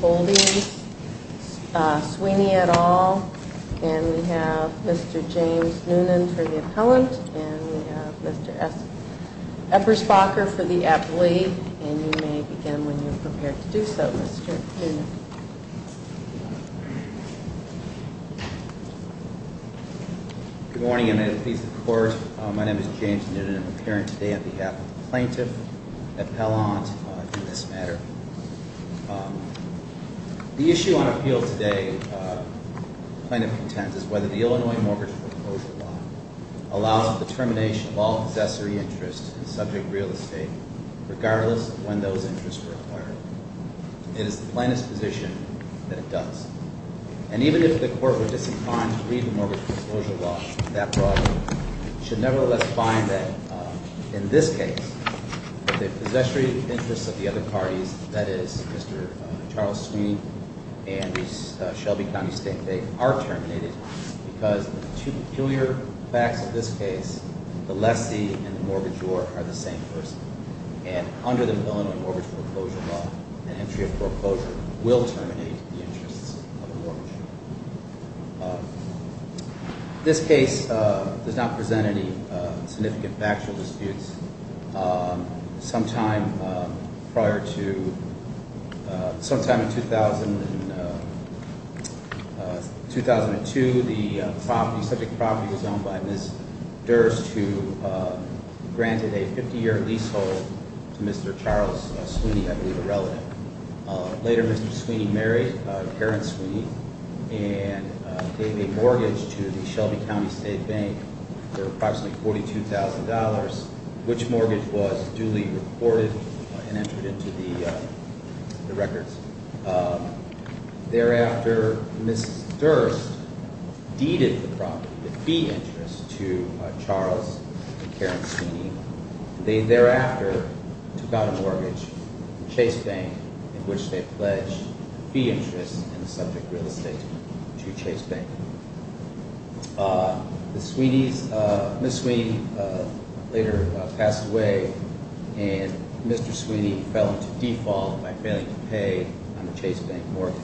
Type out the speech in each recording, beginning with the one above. Holdings, Swiney, et al. And we have Mr. James Noonan for the appellant and we have Mr. Eppersbacher for the appli. And you may begin when you're prepared to do so, Mr. Noonan. Good morning. I'm an attorney for the court. My name is James Noonan. I'm appearing today on behalf of the The issue on appeal today, plaintiff contends, is whether the Illinois Mortgage Proposal Law allows the termination of all possessory interests subject to real estate, regardless of when those interests were acquired. It is the plaintiff's position that it does. And even if the court were disinclined to read the Mortgage Proposal Law, that brought it, it should nevertheless find that, in this case, the possessory interests of the other parties, that is, Mr. Charles Swiney and Shelby County State are terminated because the two peculiar facts of this case, the lessee and the mortgagor, are the same person. And under the Illinois Mortgage Proposal Law, an entry of foreclosure will terminate the interests of a mortgagor. This case does not present any significant factual disputes. Sometime prior to, sometime in 2000, in 2002, the subject property was owned by Ms. Durst, who granted a 50-year leasehold to Mr. Charles Swiney, I believe a relative. Later, Mr. Swiney married Karen Swiney, and they made mortgage to the Shelby County State Bank for approximately $42,000, which mortgage was duly reported and entered into the records. Thereafter, Ms. Durst deeded the property, the fee interest, to Charles and Karen Swiney. They thereafter took out a mortgage from Chase Bank in which they pledged fee interest in the subject real estate to Chase Bank. Ms. Swiney later passed away, and Mr. Swiney fell into default by failing to pay on the Chase Bank mortgage.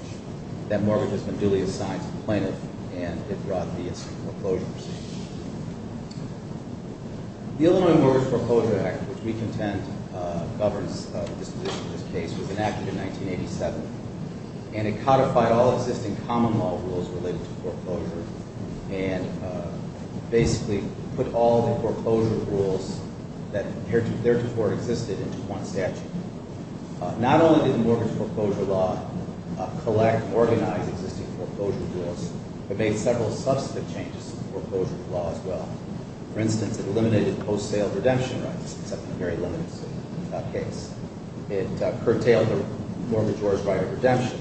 That mortgage has been duly assigned to the plaintiff, and it brought the incidental foreclosure proceeding. The Illinois Mortgage Foreclosure Act, which we contend governs the disposition of this case, was enacted in 1987, and it codified all existing common law rules related to foreclosure and basically put all the foreclosure rules that theretofore existed into one statute. Not only did the mortgage foreclosure law collect, organize, and modify existing foreclosure rules, it made several substantive changes to foreclosure law as well. For instance, it eliminated post-sale redemption rights, except in a very limited case. It curtailed the mortgagor's right of redemption.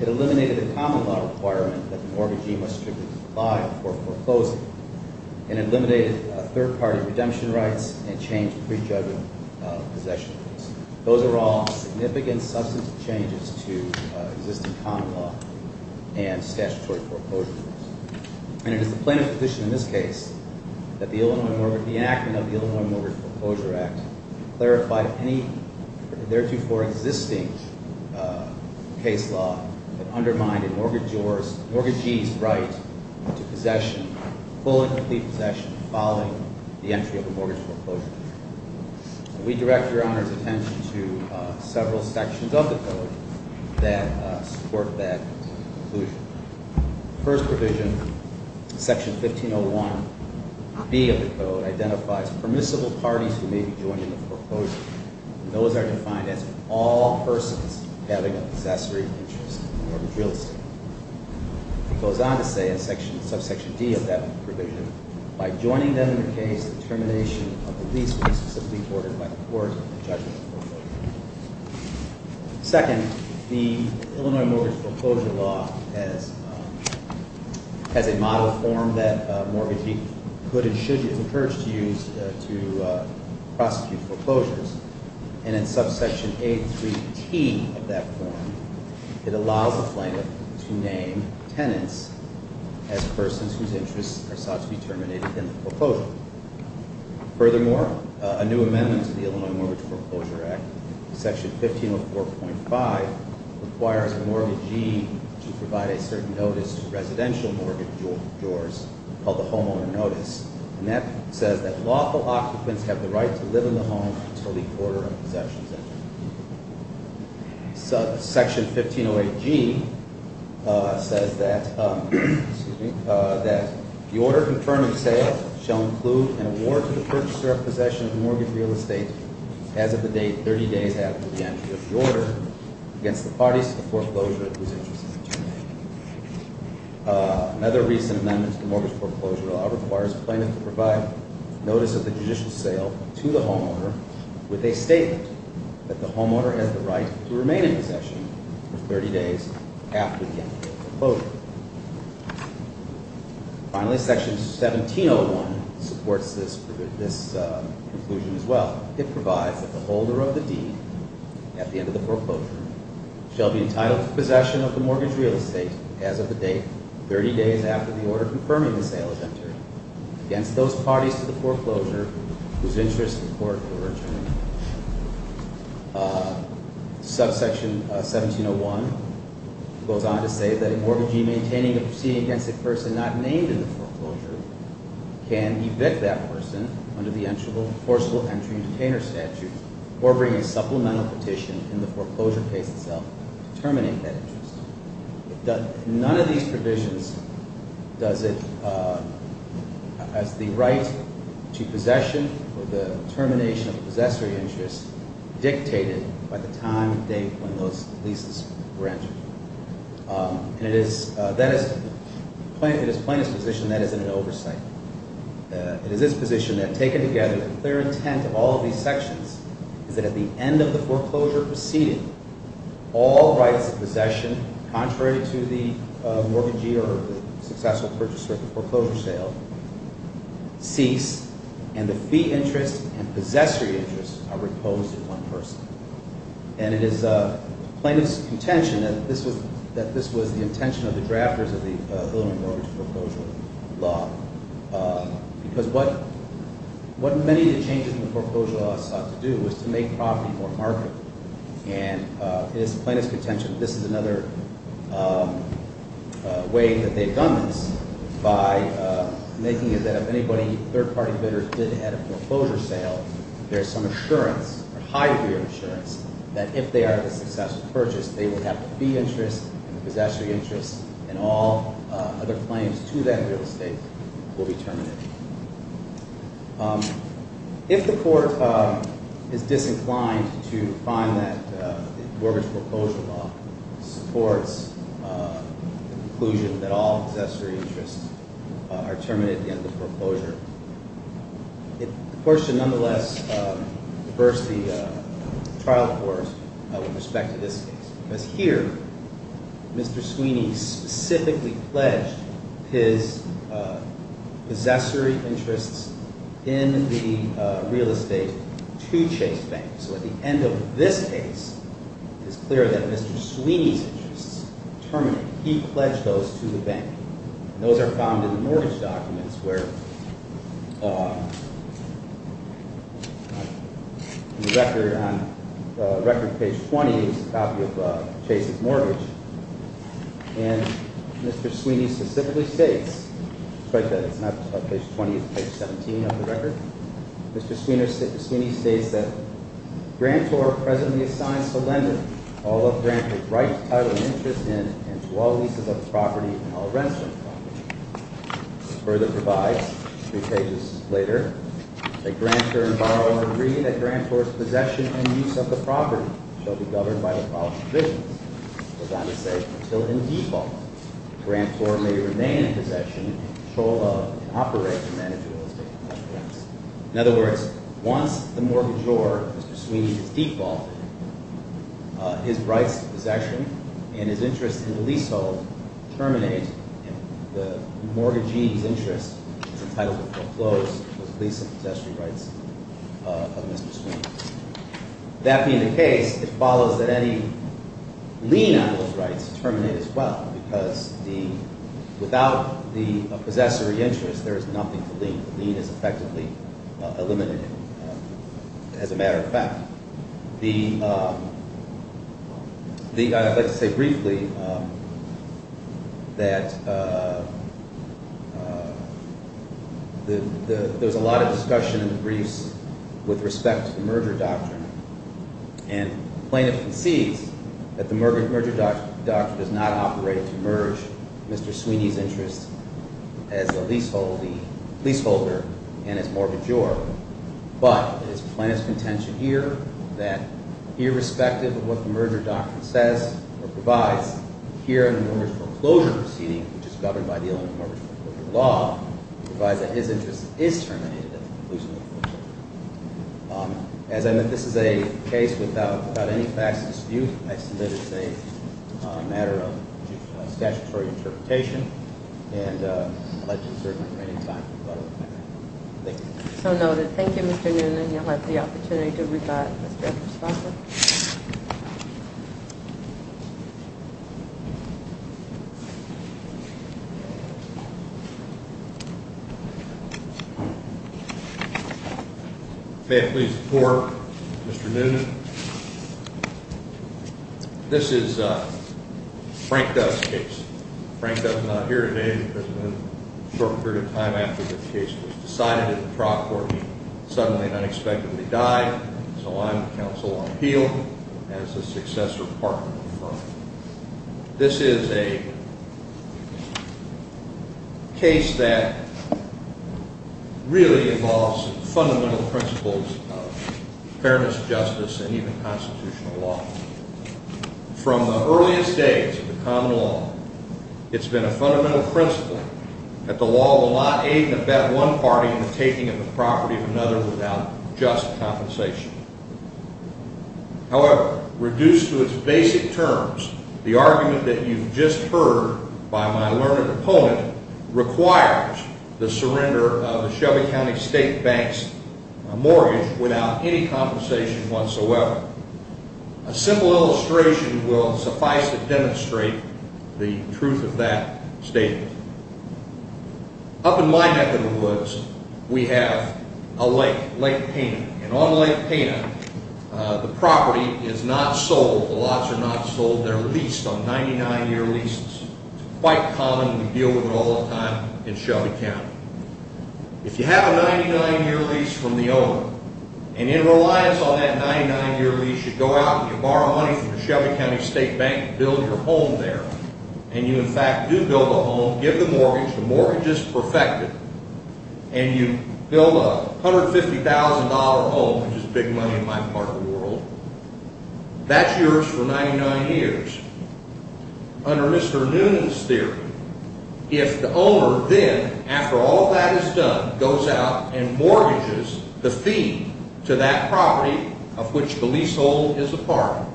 It eliminated the common law requirement that the mortgagee must strictly comply before foreclosing. It eliminated third-party redemption rights and changed pre-judgment possession rules. Those are all significant substantive changes to existing common law and statutory foreclosure rules. And it is the plaintiff's position in this case that the enactment of the Illinois Mortgage Foreclosure Act clarified any theretofore existing case law that undermined a mortgagee's right to possession, full and complete possession, following the entry of a mortgage foreclosure. We direct Your Honor's attention to several sections of the Code that support that conclusion. The first provision, Section 1501B of the Code, identifies permissible parties who may be joining the foreclosure. Those are defined as all persons having a possessory interest in a mortgage real estate. It goes on to say, in Subsection D of that provision, by joining them in the case, the termination of the lease would be specifically ordered by the court in the judgment of foreclosure. Second, the Illinois Mortgage Foreclosure Law has a model form that a mortgagee could and should be encouraged to use to prosecute foreclosures. And in Subsection A3T of that form, it allows the plaintiff to name tenants as persons whose interests are sought to be terminated in the foreclosure. Furthermore, a new amendment to the Illinois Mortgage Foreclosure Act, Section 1504.5, requires a mortgagee to provide a certain notice to residential mortgagors called the homeowner notice. And that says that lawful occupants have the right to live in the home until the order of possession is entered. Subsection 1508G says that, excuse me, that the order confirmed in sale shall include an award to the purchaser of possession of mortgage real estate as of the date 30 days after the entry of the order against the parties to the foreclosure whose interest is terminated. Another recent amendment to the Mortgage Foreclosure Law requires the plaintiff to provide notice of the judicial sale to the homeowner with a statement that the homeowner has the right to remain in possession for 30 days after the end of the foreclosure. Finally, Section 1701 supports this conclusion as well. It provides that the holder of the deed at the end of the foreclosure shall be entitled to possession of the mortgage real estate as of the date 30 days after the order confirming the sale is entered against those parties to the foreclosure whose interests in court were terminated. Subsection 1701 goes on to say that a mortgagee maintaining a proceeding against a person not named in the foreclosure can evict that person under the Forcible Entry and Detainer Statute or bring a supplemental petition in the foreclosure case itself to terminate that interest. None of these provisions does it as the right to possession or the termination of a possessory interest dictated by the time and date when those leases were entered. It is the plaintiff's position that is in an oversight. It is his position that, taken together, the clear intent of all of these sections is that at the end of the foreclosure proceeding, all rights of possession contrary to the mortgagee or the successful purchaser of the foreclosure sale cease and the fee interest and possessory interest are reposed in one person. And it is the plaintiff's contention that this was the intention of the drafters of the Illinois Mortgage Foreclosure Law because what many of the changes in the foreclosure law sought to do was to make property more marketable. And it is the plaintiff's contention that this is another way that they've done this by making it that if anybody, a third-party bidder, did have a foreclosure sale, there's some assurance or high degree of assurance that if they are of a successful purchase, they would have the fee interest and the possessory interest and all other claims to that real estate will be terminated. If the court is disinclined to find that the mortgage foreclosure law supports the conclusion that all possessory interests are terminated at the end of the foreclosure, the court should nonetheless reverse the trial court with respect to this case. Because here, Mr. Sweeney specifically pledged his possessory interests in the real estate to Chase Bank. So at the end of this case, it's clear that Mr. Sweeney's interests are terminated. He pledged those to the bank. And those are found in the mortgage documents where the record on page 20 is a copy of Chase's mortgage. And Mr. Sweeney specifically states, despite that it's not page 20, it's page 17 of the record, Mr. Sweeney states that Grantor presently assigns to Lendon all of Grantor's right, title, and interest in and to all leases of the property and all rents from the property. It further provides, three pages later, that Grantor and borrower agree that Grantor's possession and use of the property shall be governed by the following provisions. It goes on to say, until in default, Grantor may remain in possession, control of, and operate and manage real estate and other rents. In other words, once the mortgagor, Mr. Sweeney, is defaulted, his rights to possession and his interest in the leasehold terminate. And the mortgagee's interest is entitled to foreclose those lease and possessory rights of Mr. Sweeney. That being the case, it follows that any lien on those rights terminate as well, because without the possessory interest, there is nothing to lien. The lien is effectively eliminated, as a matter of fact. The, I'd like to say briefly that there's a lot of discussion in the briefs with respect to the merger doctrine. And plaintiff concedes that the merger doctrine does not operate to merge Mr. Sweeney's interest as a leaseholder and as mortgagor. But it is plaintiff's contention here that irrespective of what the merger doctrine says or provides, here in the mortgage foreclosure proceeding, which is governed by the Illinois Mortgage Foreclosure Law, it provides that his interest is terminated at the conclusion of the foreclosure. As I meant, this is a case without any facts of dispute. I submit it's a matter of statutory interpretation, and I'd like to reserve my training time for further comment. Thank you. So noted. Thank you, Mr. Noonan. You'll have the opportunity to rebut, Mr. Epstein. May I please report, Mr. Noonan? This is Frank Dove's case. Frank Dove is not here today because in the short period of time after the case was decided in the trial court, he suddenly and unexpectedly died. So I'm counsel on appeal as the successor partner of the firm. This is a case that really involves fundamental principles of fairness, justice, and even constitutional law. From the earliest days of the common law, it's been a fundamental principle that the law will not aid and abet one party in the taking of the property of another without just compensation. However, reduced to its basic terms, the argument that you've just heard by my learned opponent requires the surrender of the Shelby County State Bank's mortgage without any compensation whatsoever. A simple illustration will suffice to demonstrate the truth of that statement. Up in my neck of the woods, we have a lake, Lake Pena. And on Lake Pena, the property is not sold. The lots are not sold. They're leased on 99-year leases. It's quite common. We deal with it all the time in Shelby County. If you have a 99-year lease from the owner, and in reliance on that 99-year lease, you go out and you borrow money from the Shelby County State Bank and build your home there. And you, in fact, do build a home, give the mortgage, the mortgage is perfected, and you build a $150,000 home, which is big money in my part of the world. That's yours for 99 years. Under Mr. Noonan's theory, if the owner then, after all that is done, goes out and mortgages the fee to that property of which the leasehold is a part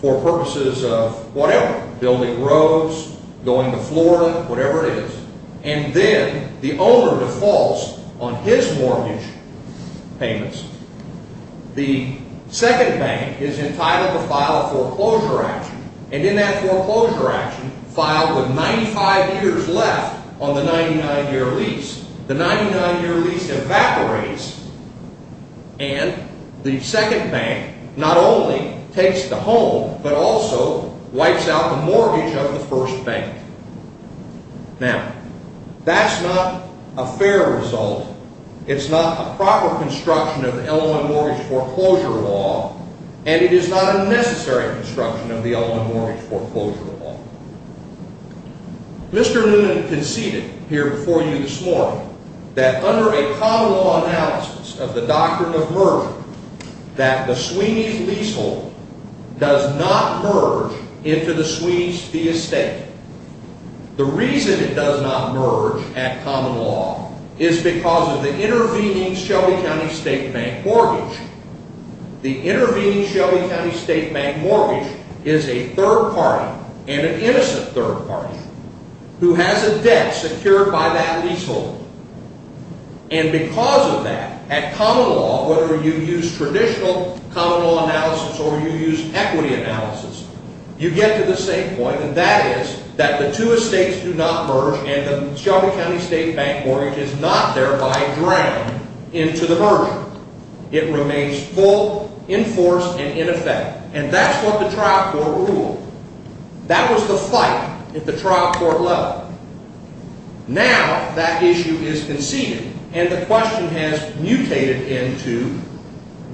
for purposes of whatever, building roads, going to Florida, whatever it is, and then the owner defaults on his mortgage payments, the second bank is entitled to file a foreclosure action. And in that foreclosure action, filed with 95 years left on the 99-year lease, the 99-year lease evaporates and the second bank not only takes the home but also wipes out the mortgage of the first bank. Now, that's not a fair result. It's not a proper construction of the LOM mortgage foreclosure law, and it is not a necessary construction of the LOM mortgage foreclosure law. Mr. Noonan conceded here before you this morning that under a common law analysis of the doctrine of merger that the Sweeney's leasehold does not merge into the Sweeney's Fee Estate. The reason it does not merge at common law is because of the intervening Shelby County State Bank mortgage. The intervening Shelby County State Bank mortgage is a third party and an innocent third party who has a debt secured by that leasehold. And because of that, at common law, whether you use traditional common law analysis or you use equity analysis, you get to the same point, and that is that the two estates do not merge and the Shelby County State Bank mortgage is not thereby drowned into the merger. It remains full, in force, and in effect. And that's what the trial court ruled. That was the fight at the trial court level. Now that issue is conceded, and the question has mutated into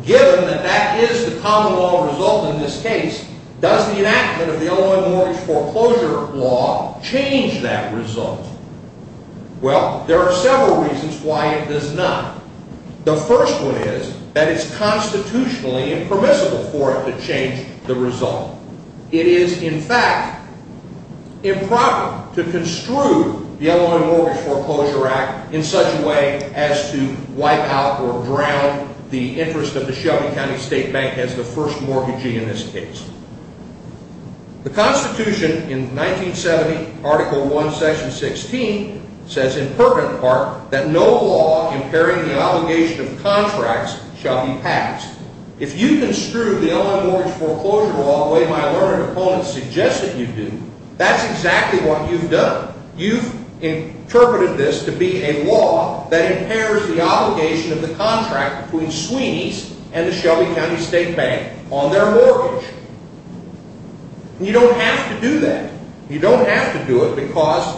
given that that is the common law result in this case, does the enactment of the LOM mortgage foreclosure law change that result? Well, there are several reasons why it does not. The first one is that it's constitutionally impermissible for it to change the result. It is, in fact, improper to construe the LOM Mortgage Foreclosure Act in such a way as to wipe out or drown the interest of the Shelby County State Bank as the first mortgagee in this case. The Constitution in 1970, Article I, Section 16, says in pertinent part that no law impairing the obligation of contracts shall be passed. If you construe the LOM mortgage foreclosure law the way my learned opponents suggest that you do, that's exactly what you've done. You've interpreted this to be a law that impairs the obligation of the contract between Sweeney's and the Shelby County State Bank on their mortgage. You don't have to do that. You don't have to do it because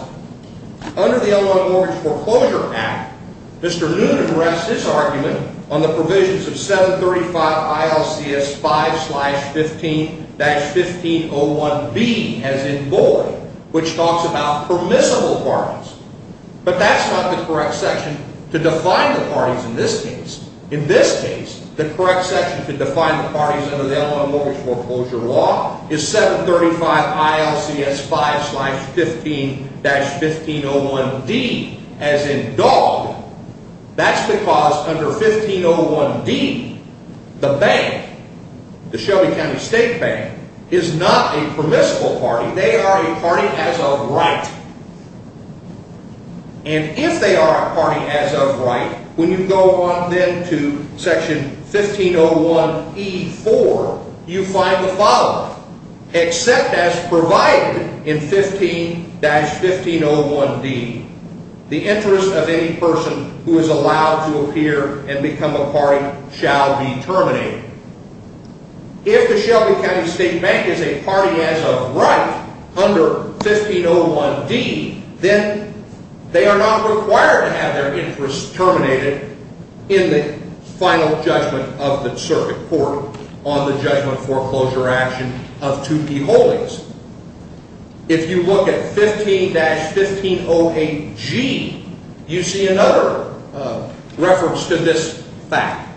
under the LOM Mortgage Foreclosure Act, Mr. Noonan rests his argument on the provisions of 735 ILCS 5-15-1501B, as in Boyd, which talks about permissible parties. But that's not the correct section to define the parties in this case. In this case, the correct section to define the parties under the LOM Mortgage Foreclosure Law is 735 ILCS 5-15-1501D, as in Dog. That's because under 1501D, the bank, the Shelby County State Bank, is not a permissible party. They are a party as of right. And if they are a party as of right, when you go on then to section 1501E-4, you find the following. Except as provided in 15-1501D, the interest of any person who is allowed to appear and become a party shall be terminated. If the Shelby County State Bank is a party as of right under 1501D, then they are not required to have their interest terminated in the final judgment of the circuit court on the judgment foreclosure action of 2P Holdings. If you look at 15-1508G, you see another reference to this fact.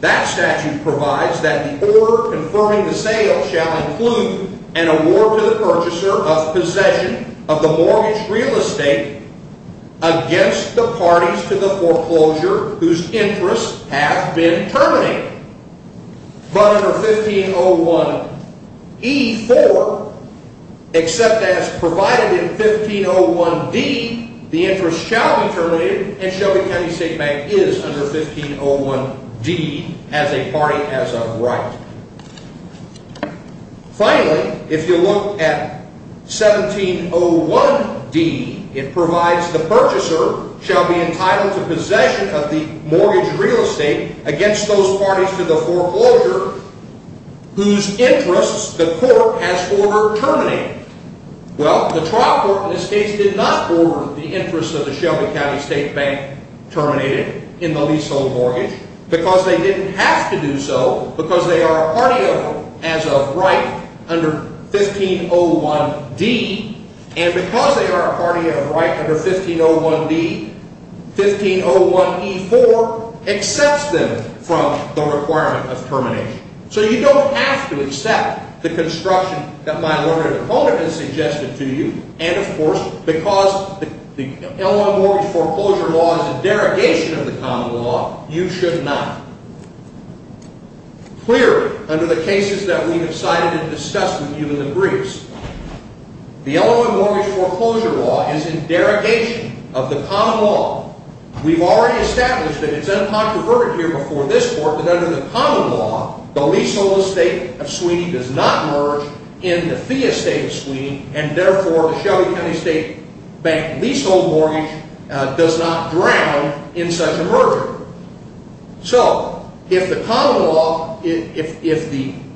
That statute provides that the order confirming the sale shall include an award to the purchaser of possession of the mortgage real estate against the parties to the foreclosure whose interests have been terminated. But under 1501E-4, except as provided in 1501D, the interest shall be terminated and Shelby County State Bank is under 1501D as a party as of right. Finally, if you look at 1701D, it provides the purchaser shall be entitled to possession of the mortgage real estate against those parties to the foreclosure whose interests the court has ordered terminated. Well, the trial court in this case did not order the interest of the Shelby County State Bank terminated in the leasehold mortgage because they didn't have to do so because they are a party as of right under 1501D. And because they are a party as of right under 1501D, 1501E-4 accepts them from the requirement of termination. So you don't have to accept the construction that my lawyer and opponent have suggested to you. And of course, because the Illinois Mortgage Foreclosure Law is a derogation of the common law, you should not. Clearly, under the cases that we have cited and discussed with you in the briefs, the Illinois Mortgage Foreclosure Law is a derogation of the common law. We've already established that it's uncontroverted here before this court that under the common law the leasehold estate of Sweeney does not merge in the fee estate of Sweeney and therefore the Shelby County State Bank leasehold mortgage does not drown in such a merger. So if the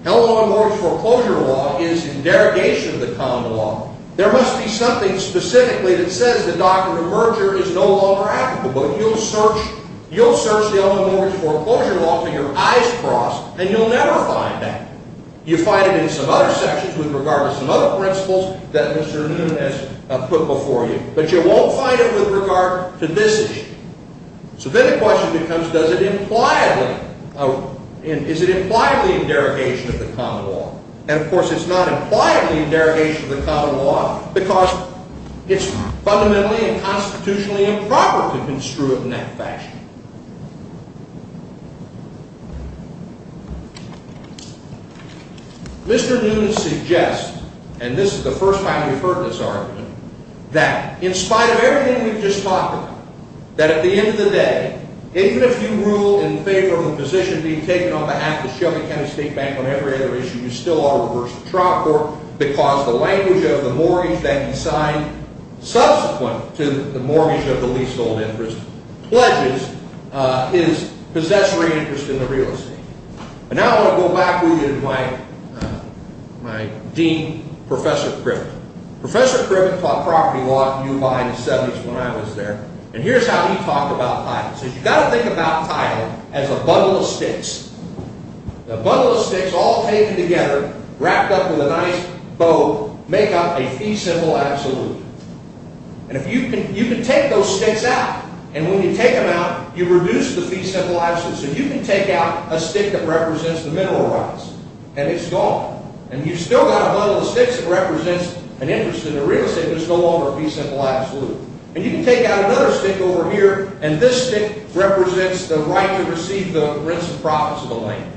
Illinois Mortgage Foreclosure Law is a derogation of the common law, there must be something specifically that says the doctrine of merger is no longer applicable. You'll search the Illinois Mortgage Foreclosure Law until your eyes cross and you'll never find that. You'll find it in some other sections with regard to some other principles that Mr. Noonan has put before you. But you won't find it with regard to this issue. So then the question becomes, is it impliedly a derogation of the common law? And of course, it's not impliedly a derogation of the common law because it's fundamentally and constitutionally improper to construe it in that fashion. Mr. Noonan suggests, and this is the first time you've heard this argument, that in spite of everything we've just talked about, that at the end of the day, even if you rule in favor of the position being taken on behalf of the Shelby County State Bank on every other issue, you still ought to reverse the trial court because the language of the mortgage that he signed subsequent to the mortgage of the leasehold interest pledges his possessory interest in the real estate. And now I want to go back with you to my dean, Professor Cribben. Professor Cribben taught property law at U of I in the 70s when I was there, and here's how he talked about title. He said, you've got to think about title as a bundle of sticks. A bundle of sticks all taped together, wrapped up with a nice bow, make up a fee simple absolute. And you can take those sticks out, and when you take them out, you reduce the fee simple absolute. So you can take out a stick that represents the mineral rights, and it's gone. And you've still got a bundle of sticks that represents an interest in the real estate, but it's no longer a fee simple absolute. And you can take out another stick over here, and this stick represents the right to receive the rents and profits of the land.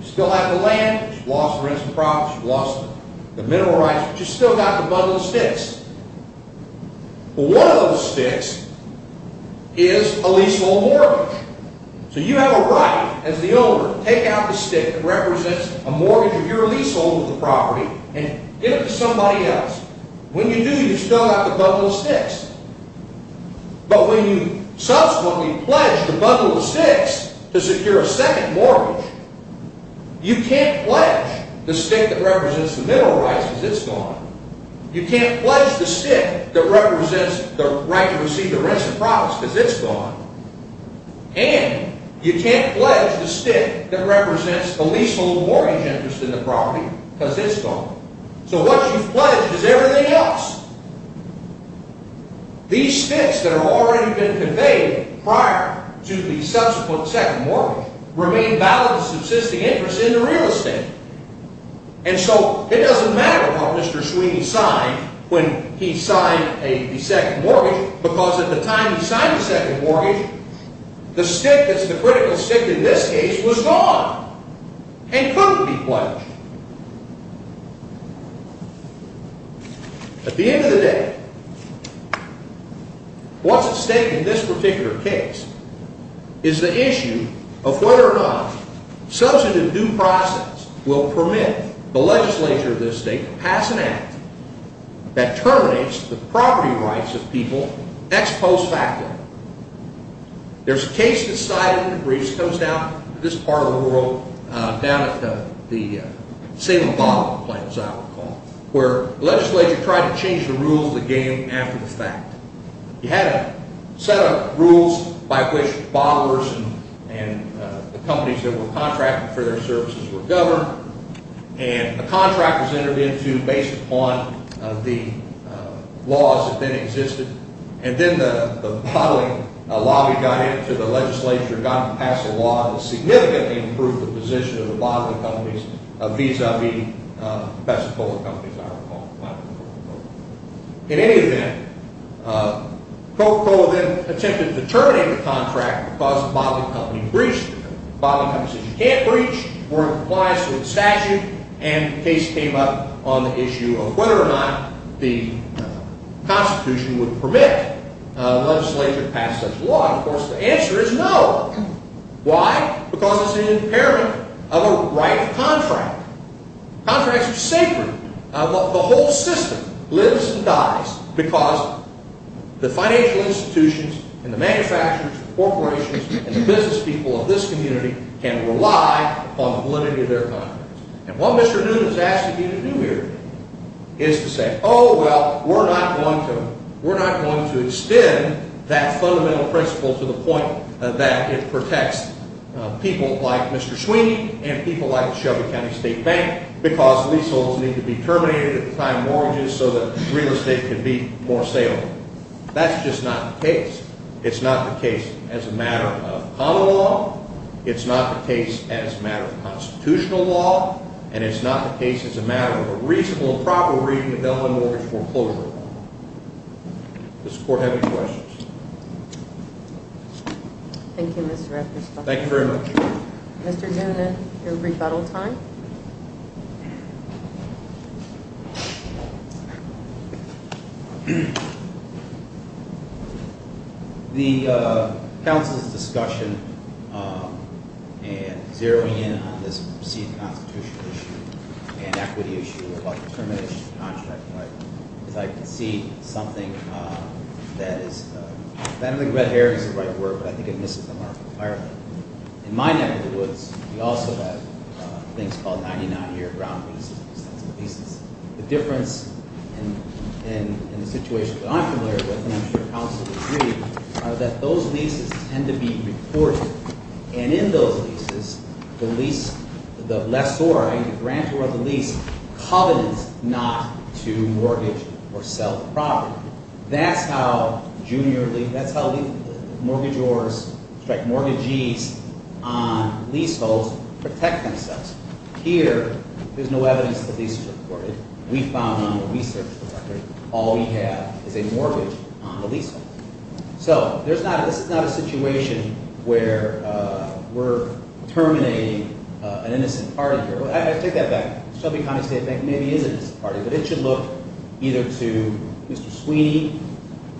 You still have the land. You've lost the rents and profits. You've lost the mineral rights, but you've still got the bundle of sticks. Well, one of those sticks is a leasehold mortgage. So you have a right as the owner to take out the stick that represents a mortgage of your leasehold of the property and give it to somebody else. When you do, you've still got the bundle of sticks. But when you subsequently pledge the bundle of sticks to secure a second mortgage, you can't pledge the stick that represents the mineral rights because it's gone. You can't pledge the stick that represents the right to receive the rents and profits because it's gone. And you can't pledge the stick that represents a leasehold mortgage interest in the property because it's gone. So what you've pledged is everything else. These sticks that have already been conveyed prior to the subsequent second mortgage remain valid subsisting interest in the real estate. And so it doesn't matter how Mr. Sweeney signed when he signed the second mortgage because at the time he signed the second mortgage, the stick that's the critical stick in this case was gone and couldn't be pledged. At the end of the day, what's at stake in this particular case is the issue of whether or not substantive due process will permit the legislature of this state to pass an act that terminates the property rights of people ex post facto. There's a case that's cited in the briefs. It comes down to this part of the world, down at the Salem Bottling Plains, I recall, where the legislature tried to change the rules of the game after the fact. You had to set up rules by which bottlers and the companies that were contracting for their services were governed. And a contract was entered into based upon the laws that then existed. And then the bottling lobby got into the legislature, got them to pass a law that significantly improved the position of the bottling companies, vis-a-vis the pesticola companies, I recall. In any event, Coca-Cola then attempted to terminate the contract because the bottling company breached it. The bottling company said you can't breach, we're in compliance with the statute, and a case came up on the issue of whether or not the Constitution would permit a legislature to pass such a law. And, of course, the answer is no. Why? Because it's an impairment of a right contract. Contracts are sacred. The whole system lives and dies because the financial institutions and the manufacturers, and the business people of this community can rely upon the validity of their contracts. And what Mr. Newton is asking you to do here is to say, oh, well, we're not going to extend that fundamental principle to the point that it protects people like Mr. Sweeney and people like the Shelby County State Bank because leaseholds need to be terminated at the time of mortgages so that real estate can be more saleable. That's just not the case. It's not the case as a matter of common law. It's not the case as a matter of constitutional law. And it's not the case as a matter of a reasonable and proper reason to deliver a mortgage foreclosure. Does the court have any questions? Thank you, Mr. Rector. Thank you very much. Mr. Noonan, your rebuttal time. The council's discussion and zeroing in on this proceeding constitutional issue and equity issue about the termination of the contract is I can see something that is – I don't think red hair is the right word, but I think it misses the mark entirely. In my neck of the woods, we also have things called 99-year ground leases, extensive leases. The difference in the situation that I'm familiar with, and I'm sure councils agree, are that those leases tend to be reported. And in those leases, the lease – the lessor, the grantor of the lease, covenants not to mortgage or sell the property. That's how junior – that's how mortgagors strike mortgagees on leaseholds protect themselves. Here, there's no evidence that the lease is reported. We found on the research, Mr. Rector, all we have is a mortgage on the leasehold. So there's not – this is not a situation where we're terminating an innocent party here. I take that back. Shelby County State Bank maybe is an innocent party, but it should look either to Mr. Sweeney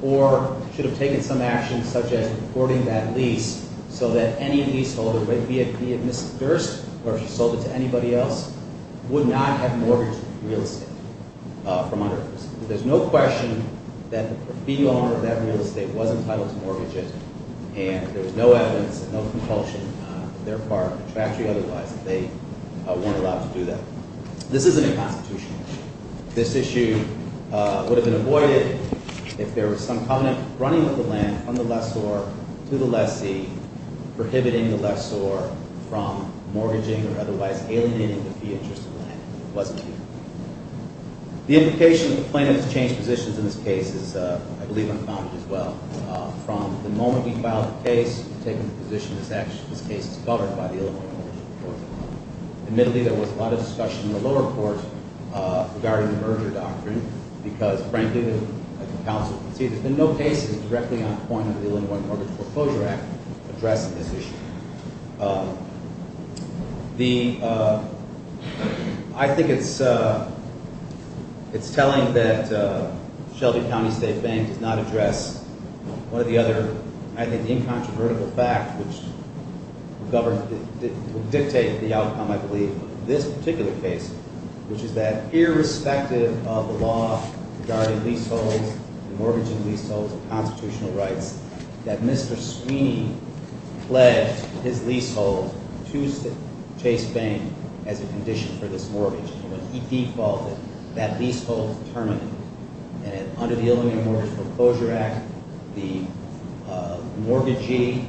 or should have taken some action such as reporting that lease so that any leaseholder, be it Mrs. Durst or if she sold it to anybody else, would not have mortgaged the real estate from under her. There's no question that the profit owner of that real estate was entitled to mortgage it, and there's no evidence, no compulsion on their part, contractually otherwise, that they weren't allowed to do that. This isn't a constitutional issue. This issue would have been avoided if there was some covenant running with the land from the lessor to the lessee prohibiting the lessor from mortgaging or otherwise alienating the fee interest of the land. It wasn't here. The implication of the plaintiff's changed positions in this case is, I believe, unfounded as well. From the moment we filed the case to taking the position, this case is covered by the Illinois Mortgage Report. Admittedly, there was a lot of discussion in the lower court regarding the merger doctrine because Frank Duggan, the counsel, conceded that no case is directly on point under the Illinois Mortgage Foreclosure Act addressing this issue. I think it's telling that Shelby County State Bank does not address one of the other, I think, incontrovertible facts which would dictate the outcome, I believe, of this particular case, which is that irrespective of the law regarding leaseholds, mortgaging leaseholds and constitutional rights, that Mr. Sweeney pledged his leasehold to Chase Bank as a condition for this mortgage. When he defaulted, that leasehold was terminated. Under the Illinois Mortgage Foreclosure Act, the mortgagee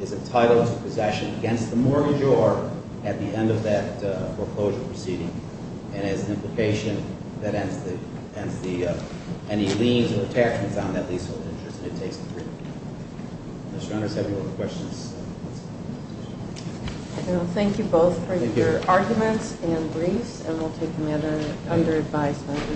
is entitled to possession against the mortgagor at the end of that foreclosure proceeding. And as an implication, that ends any liens or attachments on that leasehold interest that it takes to prove. Mr. Honors, do you have any more questions? Thank you both for your arguments and briefs, and we'll take them under advisement.